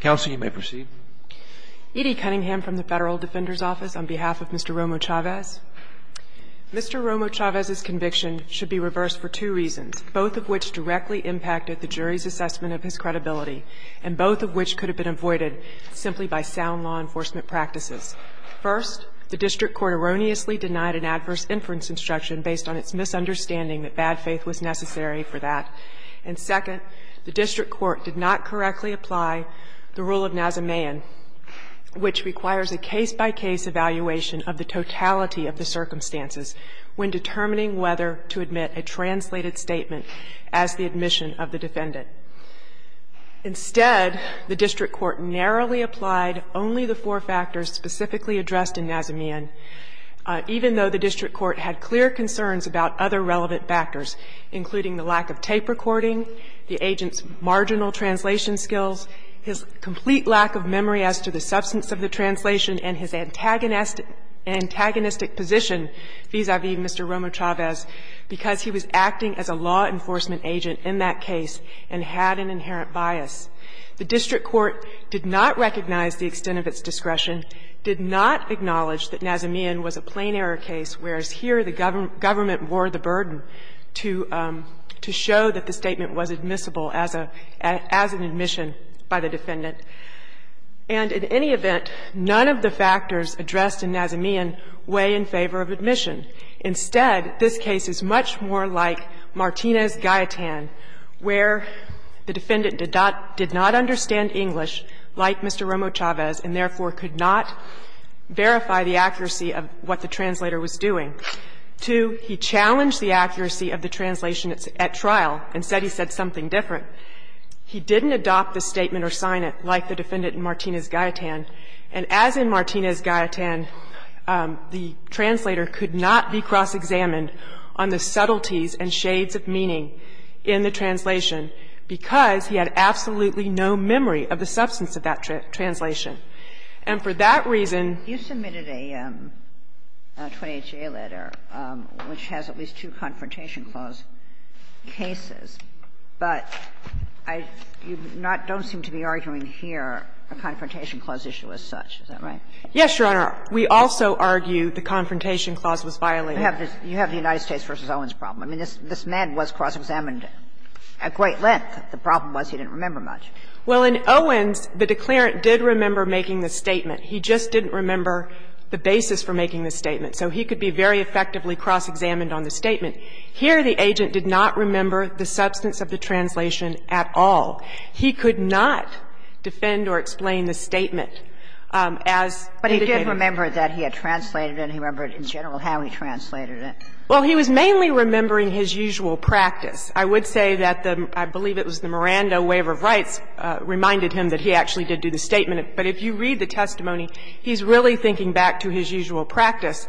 Counsel, you may proceed. Edie Cunningham from the Federal Defender's Office on behalf of Mr. Romo-Chavez. Mr. Romo-Chavez's conviction should be reversed for two reasons, both of which directly impacted the jury's assessment of his credibility and both of which could have been avoided simply by sound law enforcement practices. First, the district court erroneously denied an adverse inference instruction based on its misunderstanding that bad faith was necessary for that. And second, the district court did not correctly apply the rule of Nazamian, which requires a case-by-case evaluation of the totality of the circumstances when determining whether to admit a translated statement as the admission of the defendant. Instead, the district court narrowly applied only the four factors specifically addressed in Nazamian, even though the district court had clear concerns about other relevant factors, including the lack of tape recording, the agent's marginal translation skills, his complete lack of memory as to the substance of the translation, and his antagonistic position vis-a-vis Mr. Romo-Chavez because he was acting as a law enforcement agent in that case and had an inherent bias. The district court did not recognize the extent of its discretion, did not acknowledge that Nazamian was a plain error case, whereas here the government wore the burden to show that the statement was admissible as an admission by the defendant. And in any event, none of the factors addressed in Nazamian weigh in favor of admission. Instead, this case is much more like Martinez-Gaetan, where the defendant did not understand English like Mr. Romo-Chavez and therefore could not verify the accuracy of what the translator was doing. Two, he challenged the accuracy of the translation at trial and said he said something different. He didn't adopt the statement or sign it like the defendant in Martinez-Gaetan. And as in Martinez-Gaetan, the translator could not be cross-examined on the subtleties and shades of meaning in the translation because he had absolutely no memory of the substance of that translation. And for that reason you submitted a 28-J letter, which has at least two Confrontation Clause cases, but I don't seem to be arguing here a Confrontation Clause issue as such. Is that right? Yes, Your Honor. We also argue the Confrontation Clause was violated. You have the United States v. Owens problem. I mean, this man was cross-examined at great length. The problem was he didn't remember much. Well, in Owens, the declarant did remember making the statement. He just didn't remember the basis for making the statement. So he could be very effectively cross-examined on the statement. Here, the agent did not remember the substance of the translation at all. He could not defend or explain the statement as indicated. But he did remember that he had translated it and he remembered in general how he translated it. Well, he was mainly remembering his usual practice. I would say that the — I believe it was the Miranda waiver of rights reminded him that he actually did do the statement. But if you read the testimony, he's really thinking back to his usual practice.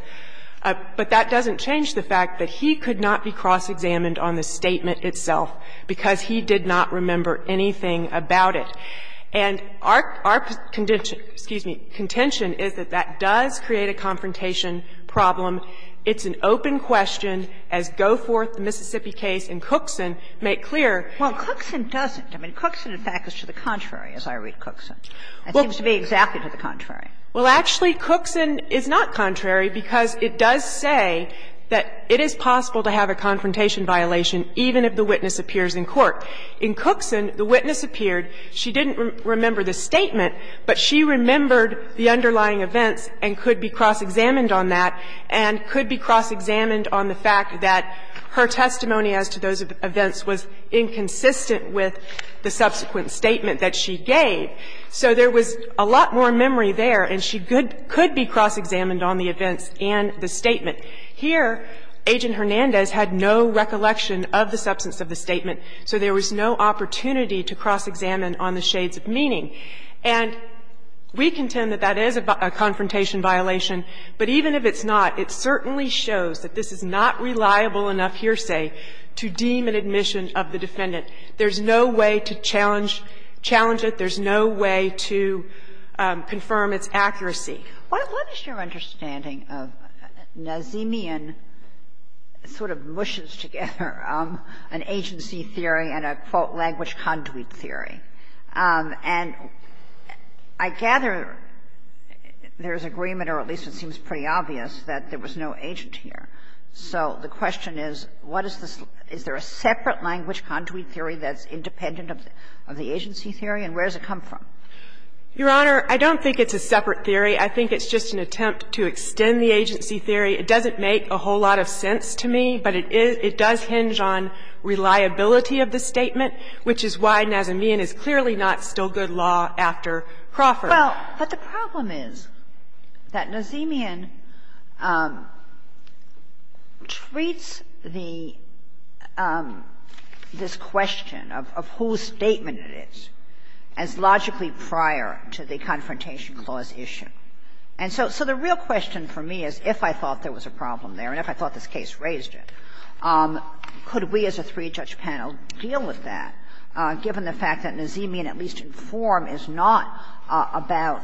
But that doesn't change the fact that he could not be cross-examined on the statement itself because he did not remember anything about it. And our contention is that that does create a confrontation problem. It's an open question, as Goforth, the Mississippi case, and Cookson make clear. Well, Cookson doesn't. I mean, Cookson, in fact, is to the contrary, as I read Cookson. It seems to be exactly to the contrary. Well, actually, Cookson is not contrary because it does say that it is possible to have a confrontation violation even if the witness appears in court. In Cookson, the witness appeared. She didn't remember the statement, but she remembered the underlying events and could be cross-examined on that. And could be cross-examined on the fact that her testimony as to those events was inconsistent with the subsequent statement that she gave. So there was a lot more memory there, and she could be cross-examined on the events and the statement. Here, Agent Hernandez had no recollection of the substance of the statement, so there was no opportunity to cross-examine on the shades of meaning. And we contend that that is a confrontation violation, but even if it's not, it certainly shows that this is not reliable enough hearsay to deem an admission of the defendant. There's no way to challenge it. There's no way to confirm its accuracy. What is your understanding of Nazemian sort of mushes together an agency theory and a, quote, language conduit theory? And I gather there's agreement, or at least it seems pretty obvious, that there was no agent here. So the question is, what is this – is there a separate language conduit theory that's independent of the agency theory, and where does it come from? Your Honor, I don't think it's a separate theory. I think it's just an attempt to extend the agency theory. It doesn't make a whole lot of sense to me, but it is – it does hinge on reliability of the statement, which is why Nazemian is clearly not still good law after Crawford. Well, but the problem is that Nazemian treats the – this question of whose statement it is as logically prior to the confrontation clause issue. And so the real question for me is, if I thought there was a problem there and if I thought this case raised it, could we, as a three-judge panel, deal with that, given the fact that Nazemian, at least in form, is not about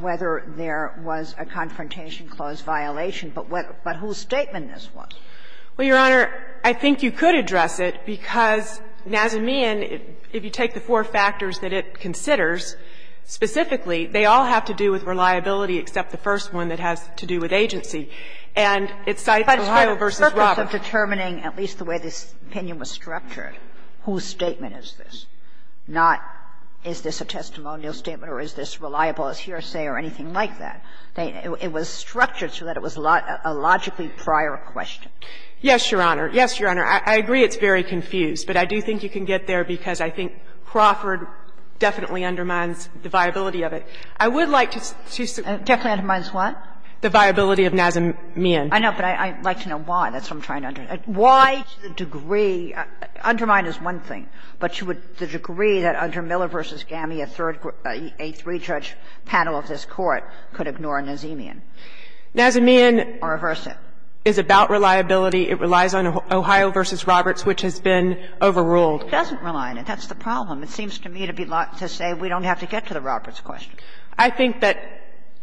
whether there was a confrontation-clause violation, but what – but whose statement this was? Well, Your Honor, I think you could address it, because Nazemian, if you take the four factors that it considers, specifically, they all have to do with reliability except the first one that has to do with agency. And it's Scythe, Ohio v. Roberts. But it's for the purpose of determining at least the way this opinion was structured, whose statement is this, not is this a testimonial statement or is this reliable as hearsay or anything like that. It was structured so that it was a logically prior question. Yes, Your Honor. Yes, Your Honor. I agree it's very confused, but I do think you can get there, because I think Crawford definitely undermines the viability of it. I would like to see some of the other questions. Definitely undermines what? The viability of Nazemian. I know, but I'd like to know why. That's what I'm trying to understand. Why to the degree – undermine is one thing, but to the degree that under Miller v. Gammey, a third – a three-judge panel of this Court could ignore Nazemian or reverse it? Nazemian is about reliability. It relies on Ohio v. Roberts, which has been overruled. It doesn't rely on it. That's the problem. It seems to me to be – to say we don't have to get to the Roberts question. I think that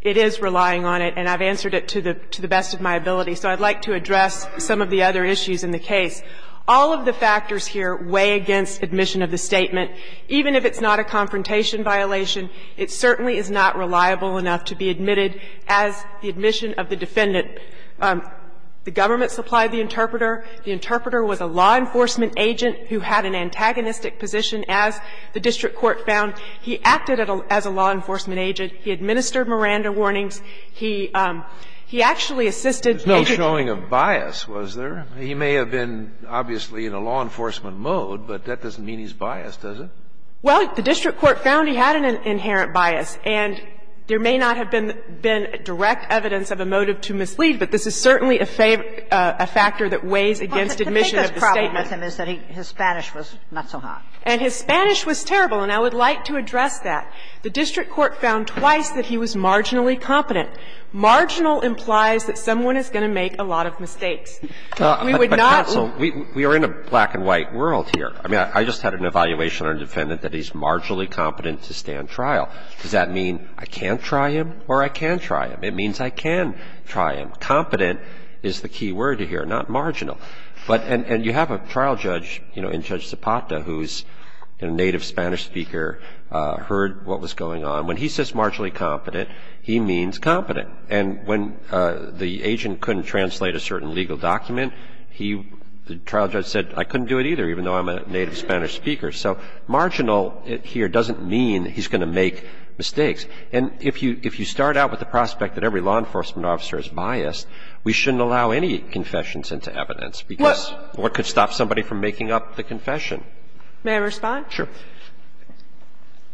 it is relying on it, and I've answered it to the best of my ability. So I'd like to address some of the other issues in the case. All of the factors here weigh against admission of the statement. Even if it's not a confrontation violation, it certainly is not reliable enough to be admitted as the admission of the defendant. The government supplied the interpreter. The interpreter was a law enforcement agent who had an antagonistic position, as the district court found. He acted as a law enforcement agent. He administered Miranda warnings. He actually assisted major – Kennedy, it's no showing of bias, was there? He may have been obviously in a law enforcement mode, but that doesn't mean he's biased, does it? Well, the district court found he had an inherent bias, and there may not have been direct evidence of a motive to mislead, but this is certainly a favor – a factor that weighs against admission of the statement. But the problem with him is that his Spanish was not so hot. And his Spanish was terrible, and I would like to address that. The district court found twice that he was marginally competent. Marginal implies that someone is going to make a lot of mistakes. We would not – But, counsel, we are in a black and white world here. I mean, I just had an evaluation on a defendant that he's marginally competent to stand trial. Does that mean I can't try him or I can try him? It means I can try him. Competent is the key word here, not marginal. But – and you have a trial judge, you know, in Judge Zapata, who's a native Spanish speaker, heard what was going on. When he says marginally competent, he means competent. And when the agent couldn't translate a certain legal document, he – the trial judge said, I couldn't do it either, even though I'm a native Spanish speaker. So marginal here doesn't mean he's going to make mistakes. And if you start out with the prospect that every law enforcement officer is biased, we shouldn't allow any confessions into evidence, because what could stop somebody from making up the confession? May I respond? Sure.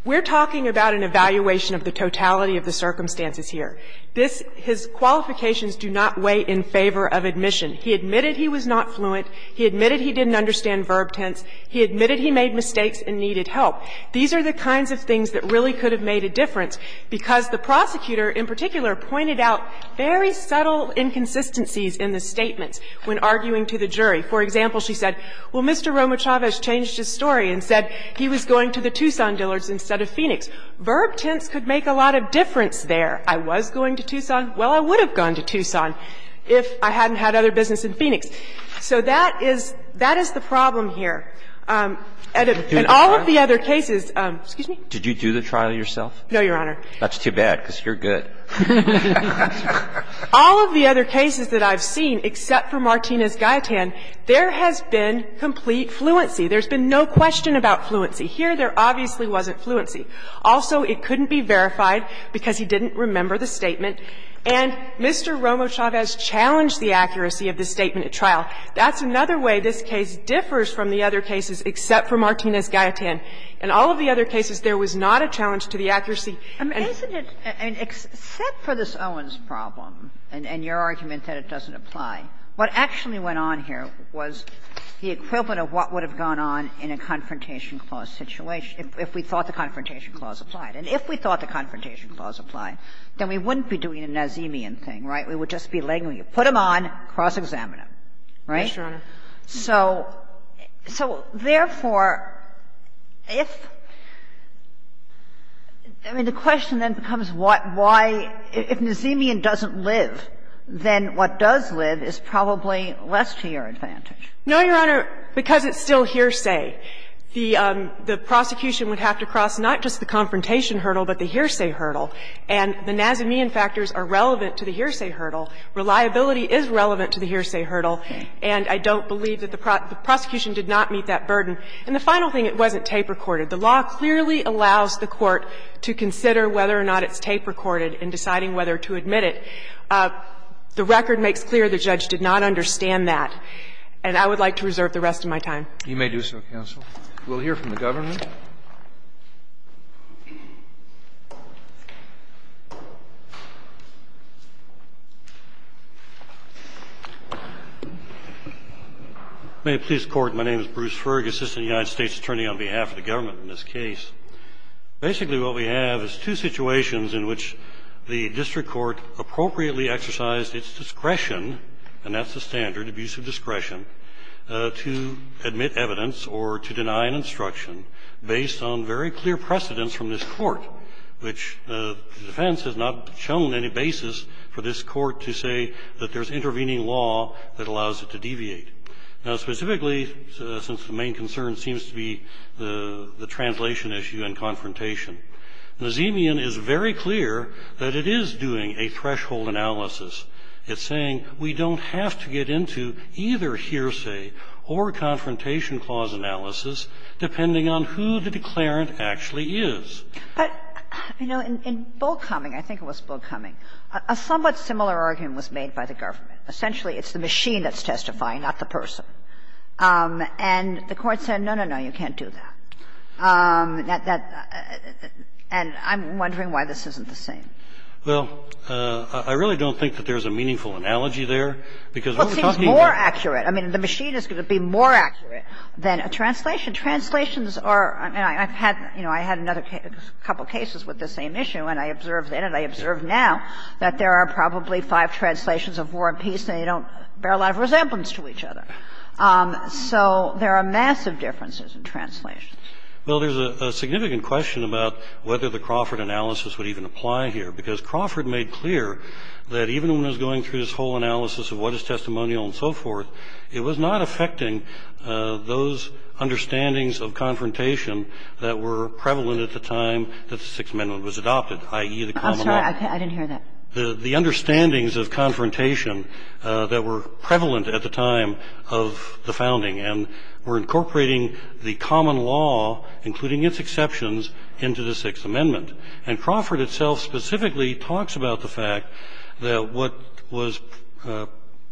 We're talking about an evaluation of the totality of the circumstances here. This – his qualifications do not weigh in favor of admission. He admitted he was not fluent. He admitted he didn't understand verb tense. He admitted he made mistakes and needed help. These are the kinds of things that really could have made a difference, because the prosecutor, in particular, pointed out very subtle inconsistencies in the statements when arguing to the jury. For example, she said, well, Mr. Romachavez changed his story and said he was going to the Tucson Dillards instead of Phoenix. Verb tense could make a lot of difference there. I was going to Tucson. Well, I would have gone to Tucson if I hadn't had other business in Phoenix. So that is – that is the problem here. In all of the other cases – excuse me? Did you do the trial yourself? No, Your Honor. That's too bad, because you're good. All of the other cases that I've seen, except for Martinez-Gayetan, there has been complete fluency. There's been no question about fluency. Here, there obviously wasn't fluency. Also, it couldn't be verified because he didn't remember the statement. And Mr. Romachavez challenged the accuracy of the statement at trial. That's another way this case differs from the other cases, except for Martinez-Gayetan. In all of the other cases, there was not a challenge to the accuracy. Isn't it – I mean, except for this Owens problem and your argument that it doesn't apply, what actually went on here was the equivalent of what would have gone on in a Confrontation Clause situation if we thought the Confrontation Clause applied. And if we thought the Confrontation Clause applied, then we wouldn't be doing a Nazemian thing, right? We would just be laying – put them on, cross-examine them, right? Yes, Your Honor. So therefore, if – I mean, the question then becomes why, if Nazemian doesn't live, then what does live is probably less to your advantage. No, Your Honor, because it's still hearsay. The prosecution would have to cross not just the Confrontation hurdle, but the hearsay hurdle. And the Nazemian factors are relevant to the hearsay hurdle. Reliability is relevant to the hearsay hurdle. And I don't believe that the prosecution did not meet that burden. And the final thing, it wasn't tape recorded. The law clearly allows the Court to consider whether or not it's tape recorded in deciding whether to admit it. The record makes clear the judge did not understand that. And I would like to reserve the rest of my time. You may do so, counsel. We'll hear from the government. Thank you, Your Honor. May it please the Court, my name is Bruce Fergus, Assistant United States Attorney on behalf of the government in this case. Basically, what we have is two situations in which the district court appropriately exercised its discretion, and that's the standard, abusive discretion, to admit evidence or to deny an instruction based on very clear precedence from this court, which the defense has not shown any basis for this court to say that there's intervening law that allows it to deviate. Now, specifically, since the main concern seems to be the translation issue and confrontation, Nazemian is very clear that it is doing a threshold analysis. It's saying we don't have to get into either hearsay or confrontation clause analysis depending on who the declarant actually is. But, you know, in Bullcoming, I think it was Bullcoming, a somewhat similar argument was made by the government. Essentially, it's the machine that's testifying, not the person. And the Court said, no, no, no, you can't do that. And I'm wondering why this isn't the same. Well, I really don't think that there's a meaningful analogy there, because what we're talking about here. Well, it seems more accurate. I mean, the machine is going to be more accurate than a translation. Translations are – I mean, I've had, you know, I had another couple cases with the same issue, and I observed then and I observe now that there are probably five translations of war and peace, and they don't bear a lot of resemblance to each other. So there are massive differences in translations. Well, there's a significant question about whether the Crawford analysis would even apply here, because Crawford made clear that even when it was going through this whole analysis of what is testimonial and so forth, it was not affecting those understandings of confrontation that were prevalent at the time that the Sixth Amendment was adopted, i.e., the common law. I'm sorry, I didn't hear that. The understandings of confrontation that were prevalent at the time of the founding and were incorporating the common law, including its exceptions, into the Sixth Amendment, and Crawford itself specifically talks about the fact that what was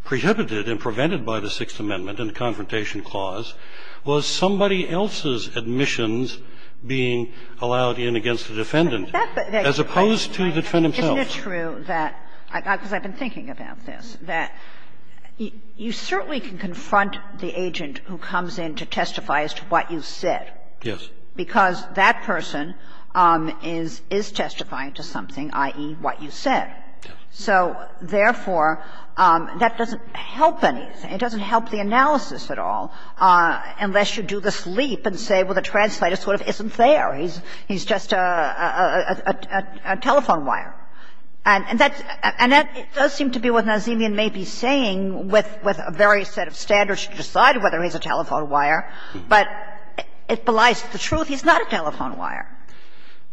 prohibited and prevented by the Sixth Amendment in the Confrontation Clause was somebody else's admissions being allowed in against the defendant, as opposed to the defendant himself. Isn't it true that – because I've been thinking about this – that you certainly can confront the agent who comes in to testify as to what you said. Yes. Because that person is – is testifying to something, i.e., what you said. So, therefore, that doesn't help anything. It doesn't help the analysis at all, unless you do this leap and say, well, the translator sort of isn't there. He's just a telephone wire. And that's – and that does seem to be what Nazemian may be saying with a very set of standards to decide whether he's a telephone wire, but it belies the truth. He's not a telephone wire.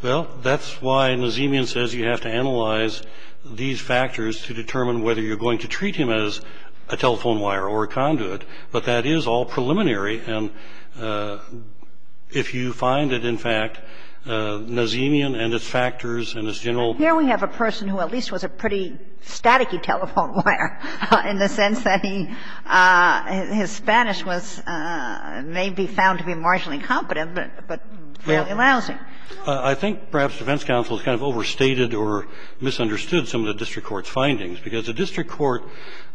Well, that's why Nazemian says you have to analyze these factors to determine whether you're going to treat him as a telephone wire or a conduit. But that is all preliminary, and if you find that, in fact, Nazemian and its factors and its general – Here we have a person who at least was a pretty staticky telephone wire, in the sense that he – his Spanish was – may be found to be marginally competent, but fairly lousy. I think perhaps defense counsel has kind of overstated or misunderstood some of the district court's findings, because the district court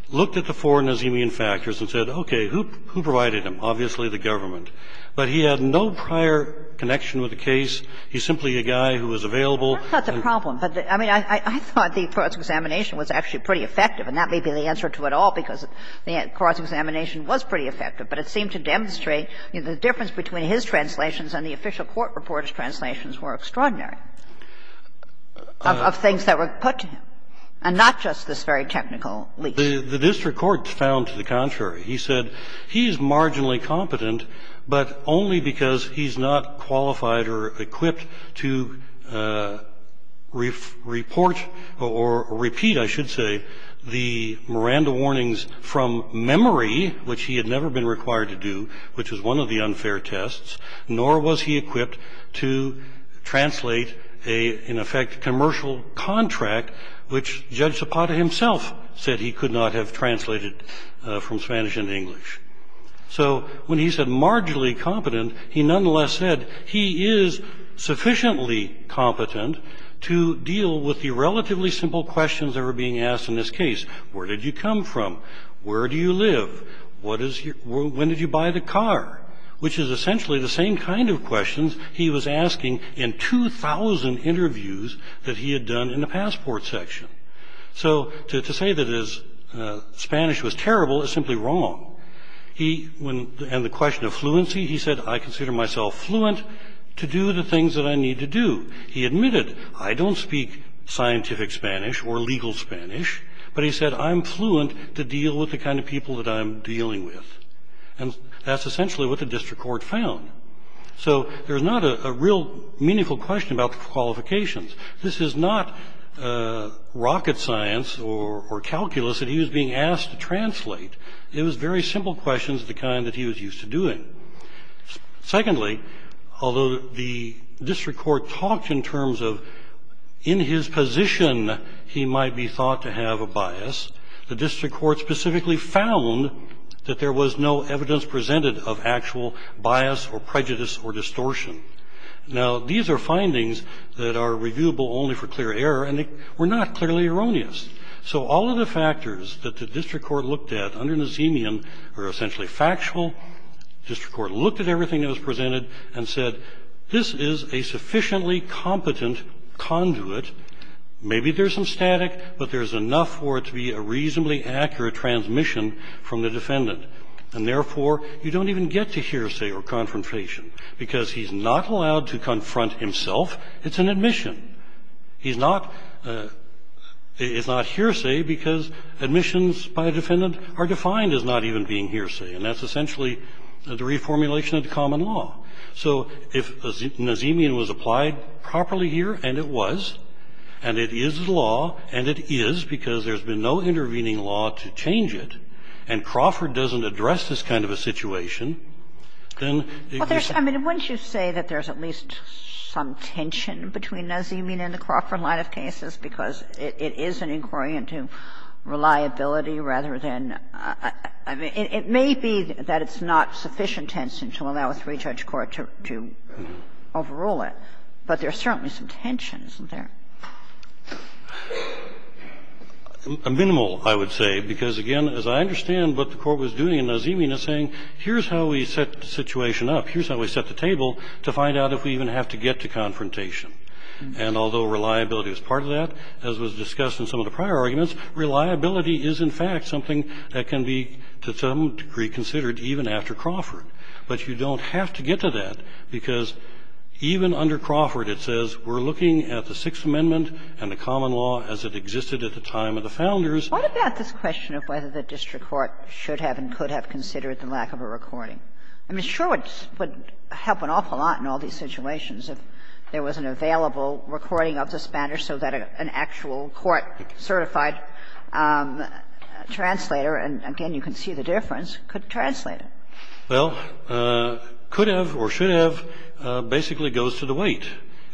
looked at the four Nazemian factors and said, okay, who provided them? Obviously, the government. But he had no prior connection with the case. He's simply a guy who was available. That's not the problem. I mean, I thought the frauds examination was actually pretty effective, and that was – the frauds examination was pretty effective, but it seemed to demonstrate the difference between his translations and the official court reporter's translations were extraordinary, of things that were put to him, and not just this very technical leak. The district court found to the contrary. He said he's marginally competent, but only because he's not qualified or equipped to report or repeat, I should say, the Miranda warnings from memory, which he had never been required to do, which was one of the unfair tests, nor was he equipped to translate a, in effect, commercial contract, which Judge Zapata himself said he could not have translated from Spanish into English. So when he said marginally competent, he nonetheless said he is sufficiently competent to deal with the relatively simple questions that were being asked in this case. Where did you come from? Where do you live? What is your – when did you buy the car? Which is essentially the same kind of questions he was asking in 2,000 interviews that he had done in the passport section. So to say that his Spanish was terrible is simply wrong. He, when – and the question of fluency, he said, I consider myself fluent to do the things that I need to do. He admitted, I don't speak scientific Spanish or legal Spanish, but he said, I'm fluent to deal with the kind of people that I'm dealing with. And that's essentially what the district court found. So there's not a real meaningful question about the qualifications. This is not rocket science or calculus that he was being asked to translate. It was very simple questions, the kind that he was used to doing. Secondly, although the district court talked in terms of in his position, he might be thought to have a bias, the district court specifically found that there was no evidence presented of actual bias or prejudice or distortion. Now, these are findings that are reviewable only for clear error, and they were not clearly erroneous. So all of the factors that the district court looked at under Nazemian are essentially factual. District court looked at everything that was presented and said, this is a sufficiently competent conduit. Maybe there's some static, but there's enough for it to be a reasonably accurate transmission from the defendant. And therefore, you don't even get to hear, say, or confrontation, because he's not allowed to confront himself. It's an admission. He's not hearsay, because admissions by a defendant are defined as not even being hearsay. And that's essentially the reformulation of the common law. So if Nazemian was applied properly here, and it was, and it is the law, and it is because there's been no intervening law to change it, and Crawford doesn't address this kind of a situation, then it's I mean, wouldn't you say that there's at least some tension between Nazemian and the Crawford line of cases, because it is an inquiry into reliability rather than It may be that it's not sufficient tension to allow a three-judge court to overrule it, but there's certainly some tension, isn't there? A minimal, I would say, because, again, as I understand what the Court was doing in Nazemian is saying, here's how we set the situation up. Here's how we set the table to find out if we even have to get to confrontation. And although reliability is part of that, as was discussed in some of the prior arguments, reliability is, in fact, something that can be to some degree considered even after Crawford. But you don't have to get to that, because even under Crawford it says we're looking at the Sixth Amendment and the common law as it existed at the time of the founders. Kagan. What about this question of whether the district court should have and could have considered the lack of a recording? I mean, sure, it would help an awful lot in all these situations if there was an available recording of the spanner so that an actual court-certified translator, and again, you can see the difference, could translate it. Well, could have or should have basically goes to the weight.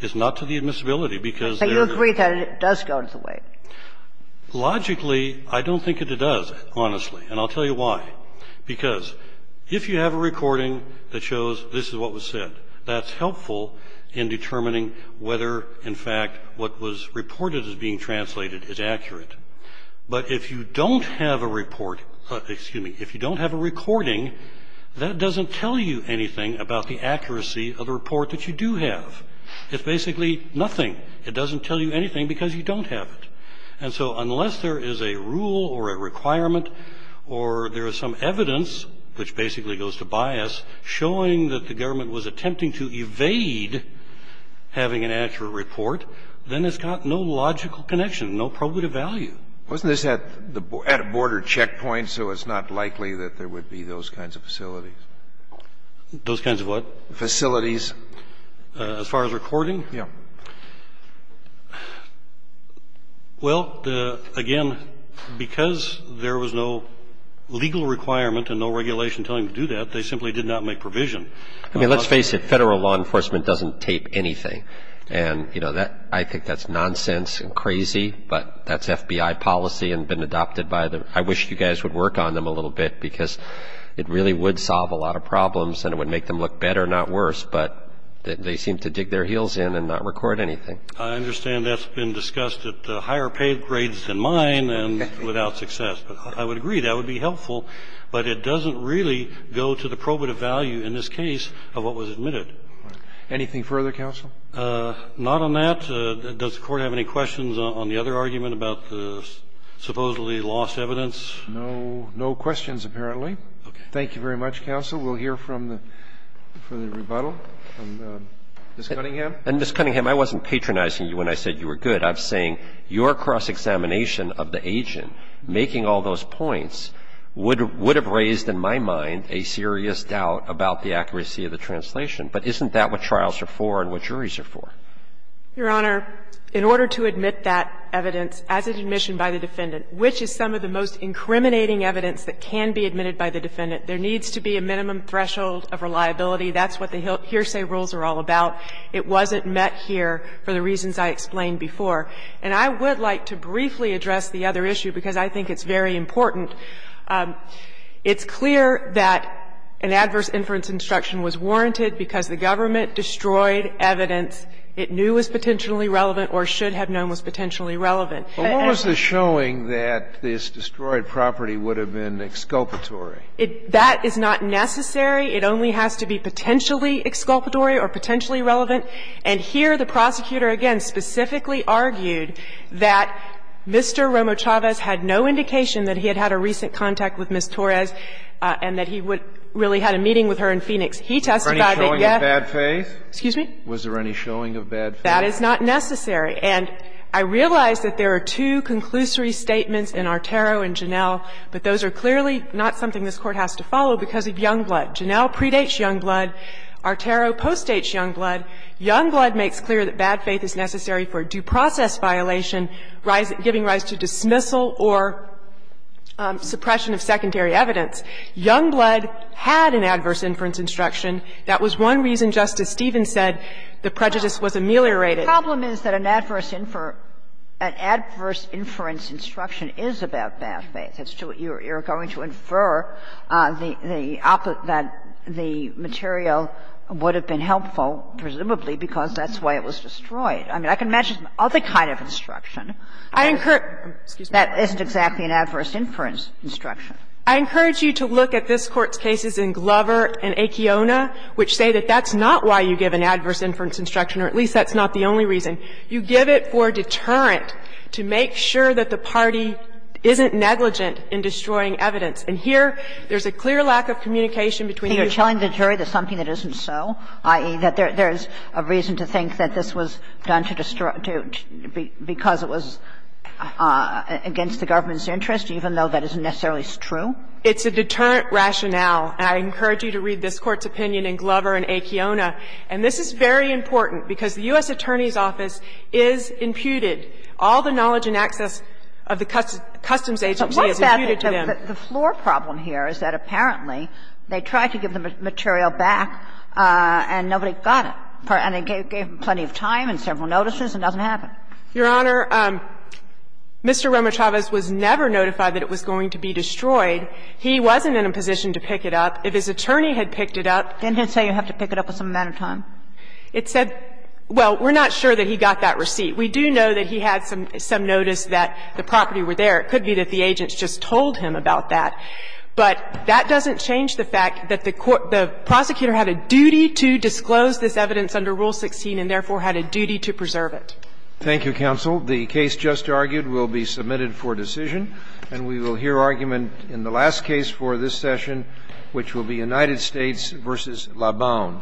It's not to the admissibility, because there are other things that go to the weight. But you agree that it does go to the weight. Logically, I don't think that it does, honestly, and I'll tell you why. Because if you have a recording that shows this is what was said, that's helpful in determining whether, in fact, what was reported as being translated is accurate. But if you don't have a report, excuse me, if you don't have a recording, that doesn't tell you anything about the accuracy of the report that you do have. It's basically nothing. It doesn't tell you anything because you don't have it. And so unless there is a rule or a requirement or there is some evidence, which basically goes to bias, showing that the government was attempting to evade having an accurate report, then it's got no logical connection, no probative value. Wasn't this at a border checkpoint, so it's not likely that there would be those kinds of facilities? Those kinds of what? Facilities. As far as recording? Yeah. Well, again, because there was no legal requirement and no regulation telling them to do that, they simply did not make provision. I mean, let's face it, federal law enforcement doesn't tape anything. And I think that's nonsense and crazy, but that's FBI policy and been adopted by the, I wish you guys would work on them a little bit because it really would solve a lot of problems and it would make them look better, not worse. But they seem to dig their heels in and not record anything. I understand that's been discussed at higher paid grades than mine and without success, but I would agree, that would be helpful, but it doesn't really go to the probative value in this case of what was admitted. Anything further, counsel? Not on that. Does the Court have any questions on the other argument about the supposedly lost evidence? No questions, apparently. Thank you very much, counsel. We'll hear from the, for the rebuttal, from Ms. Cunningham. And, Ms. Cunningham, I wasn't patronizing you when I said you were good. I'm saying your cross-examination of the agent making all those points would have raised, in my mind, a serious doubt about the accuracy of the translation. But isn't that what trials are for and what juries are for? Your Honor, in order to admit that evidence, as it's admissioned by the defendant, which is some of the most incriminating evidence that can be admitted by the defendant, there needs to be a minimum threshold of reliability. That's what the hearsay rules are all about. It wasn't met here for the reasons I explained before. And I would like to briefly address the other issue, because I think it's very important. It's clear that an adverse inference instruction was warranted because the government destroyed evidence it knew was potentially relevant or should have known was potentially relevant. But what was the showing that this destroyed property would have been exculpatory? That is not necessary. It only has to be potentially exculpatory or potentially relevant. And here the prosecutor, again, specifically argued that Mr. Romo-Chavez had no indication that he had had a recent contact with Ms. Torres and that he would really had a meeting with her in Phoenix. He testified that, yes. Scalia, was there any showing of bad faith? That is not necessary. And I realize that there are two conclusory statements in Artero and Janel, but those are clearly not something this Court has to follow because of Youngblood. Janel predates Youngblood. Artero postdates Youngblood. Youngblood makes clear that bad faith is necessary for a due process violation giving rise to dismissal or suppression of secondary evidence. Youngblood had an adverse inference instruction. That was one reason Justice Stevens said the prejudice was ameliorated. Kagan. The problem is that an adverse inference instruction is about bad faith. You're going to infer that the material would have been helpful, presumably, because that's why it was destroyed. I mean, I can imagine some other kind of instruction that isn't exactly an adverse inference instruction. I encourage you to look at this Court's cases in Glover and Akeona, which say that that's not why you give an adverse inference instruction, or at least that's not the only reason. You give it for deterrent, to make sure that the party isn't negligent in destroying evidence. And here, there's a clear lack of communication between the two. You're telling the jury there's something that isn't so, i.e., that there's a reason to think that this was done to destroy, because it was against the government's interest, even though that isn't necessarily true? It's a deterrent rationale, and I encourage you to read this Court's opinion in Glover and Akeona. And this is very important, because the U.S. Attorney's Office is imputed. All the knowledge and access of the Customs Agency is imputed to them. But what's the floor problem here is that apparently they tried to give the material back, and nobody got it. And they gave them plenty of time and several notices, and it doesn't happen. Your Honor, Mr. Romo-Chavez was never notified that it was going to be destroyed. He wasn't in a position to pick it up. If his attorney had picked it up. Didn't it say you have to pick it up with some amount of time? It said we're not sure that he got that receipt. We do know that he had some notice that the property were there. It could be that the agents just told him about that. But that doesn't change the fact that the prosecutor had a duty to disclose this evidence under Rule 16 and therefore had a duty to preserve it. Thank you, counsel. The case just argued will be submitted for decision, and we will hear argument in the last case for this session, which will be United States v. Laban.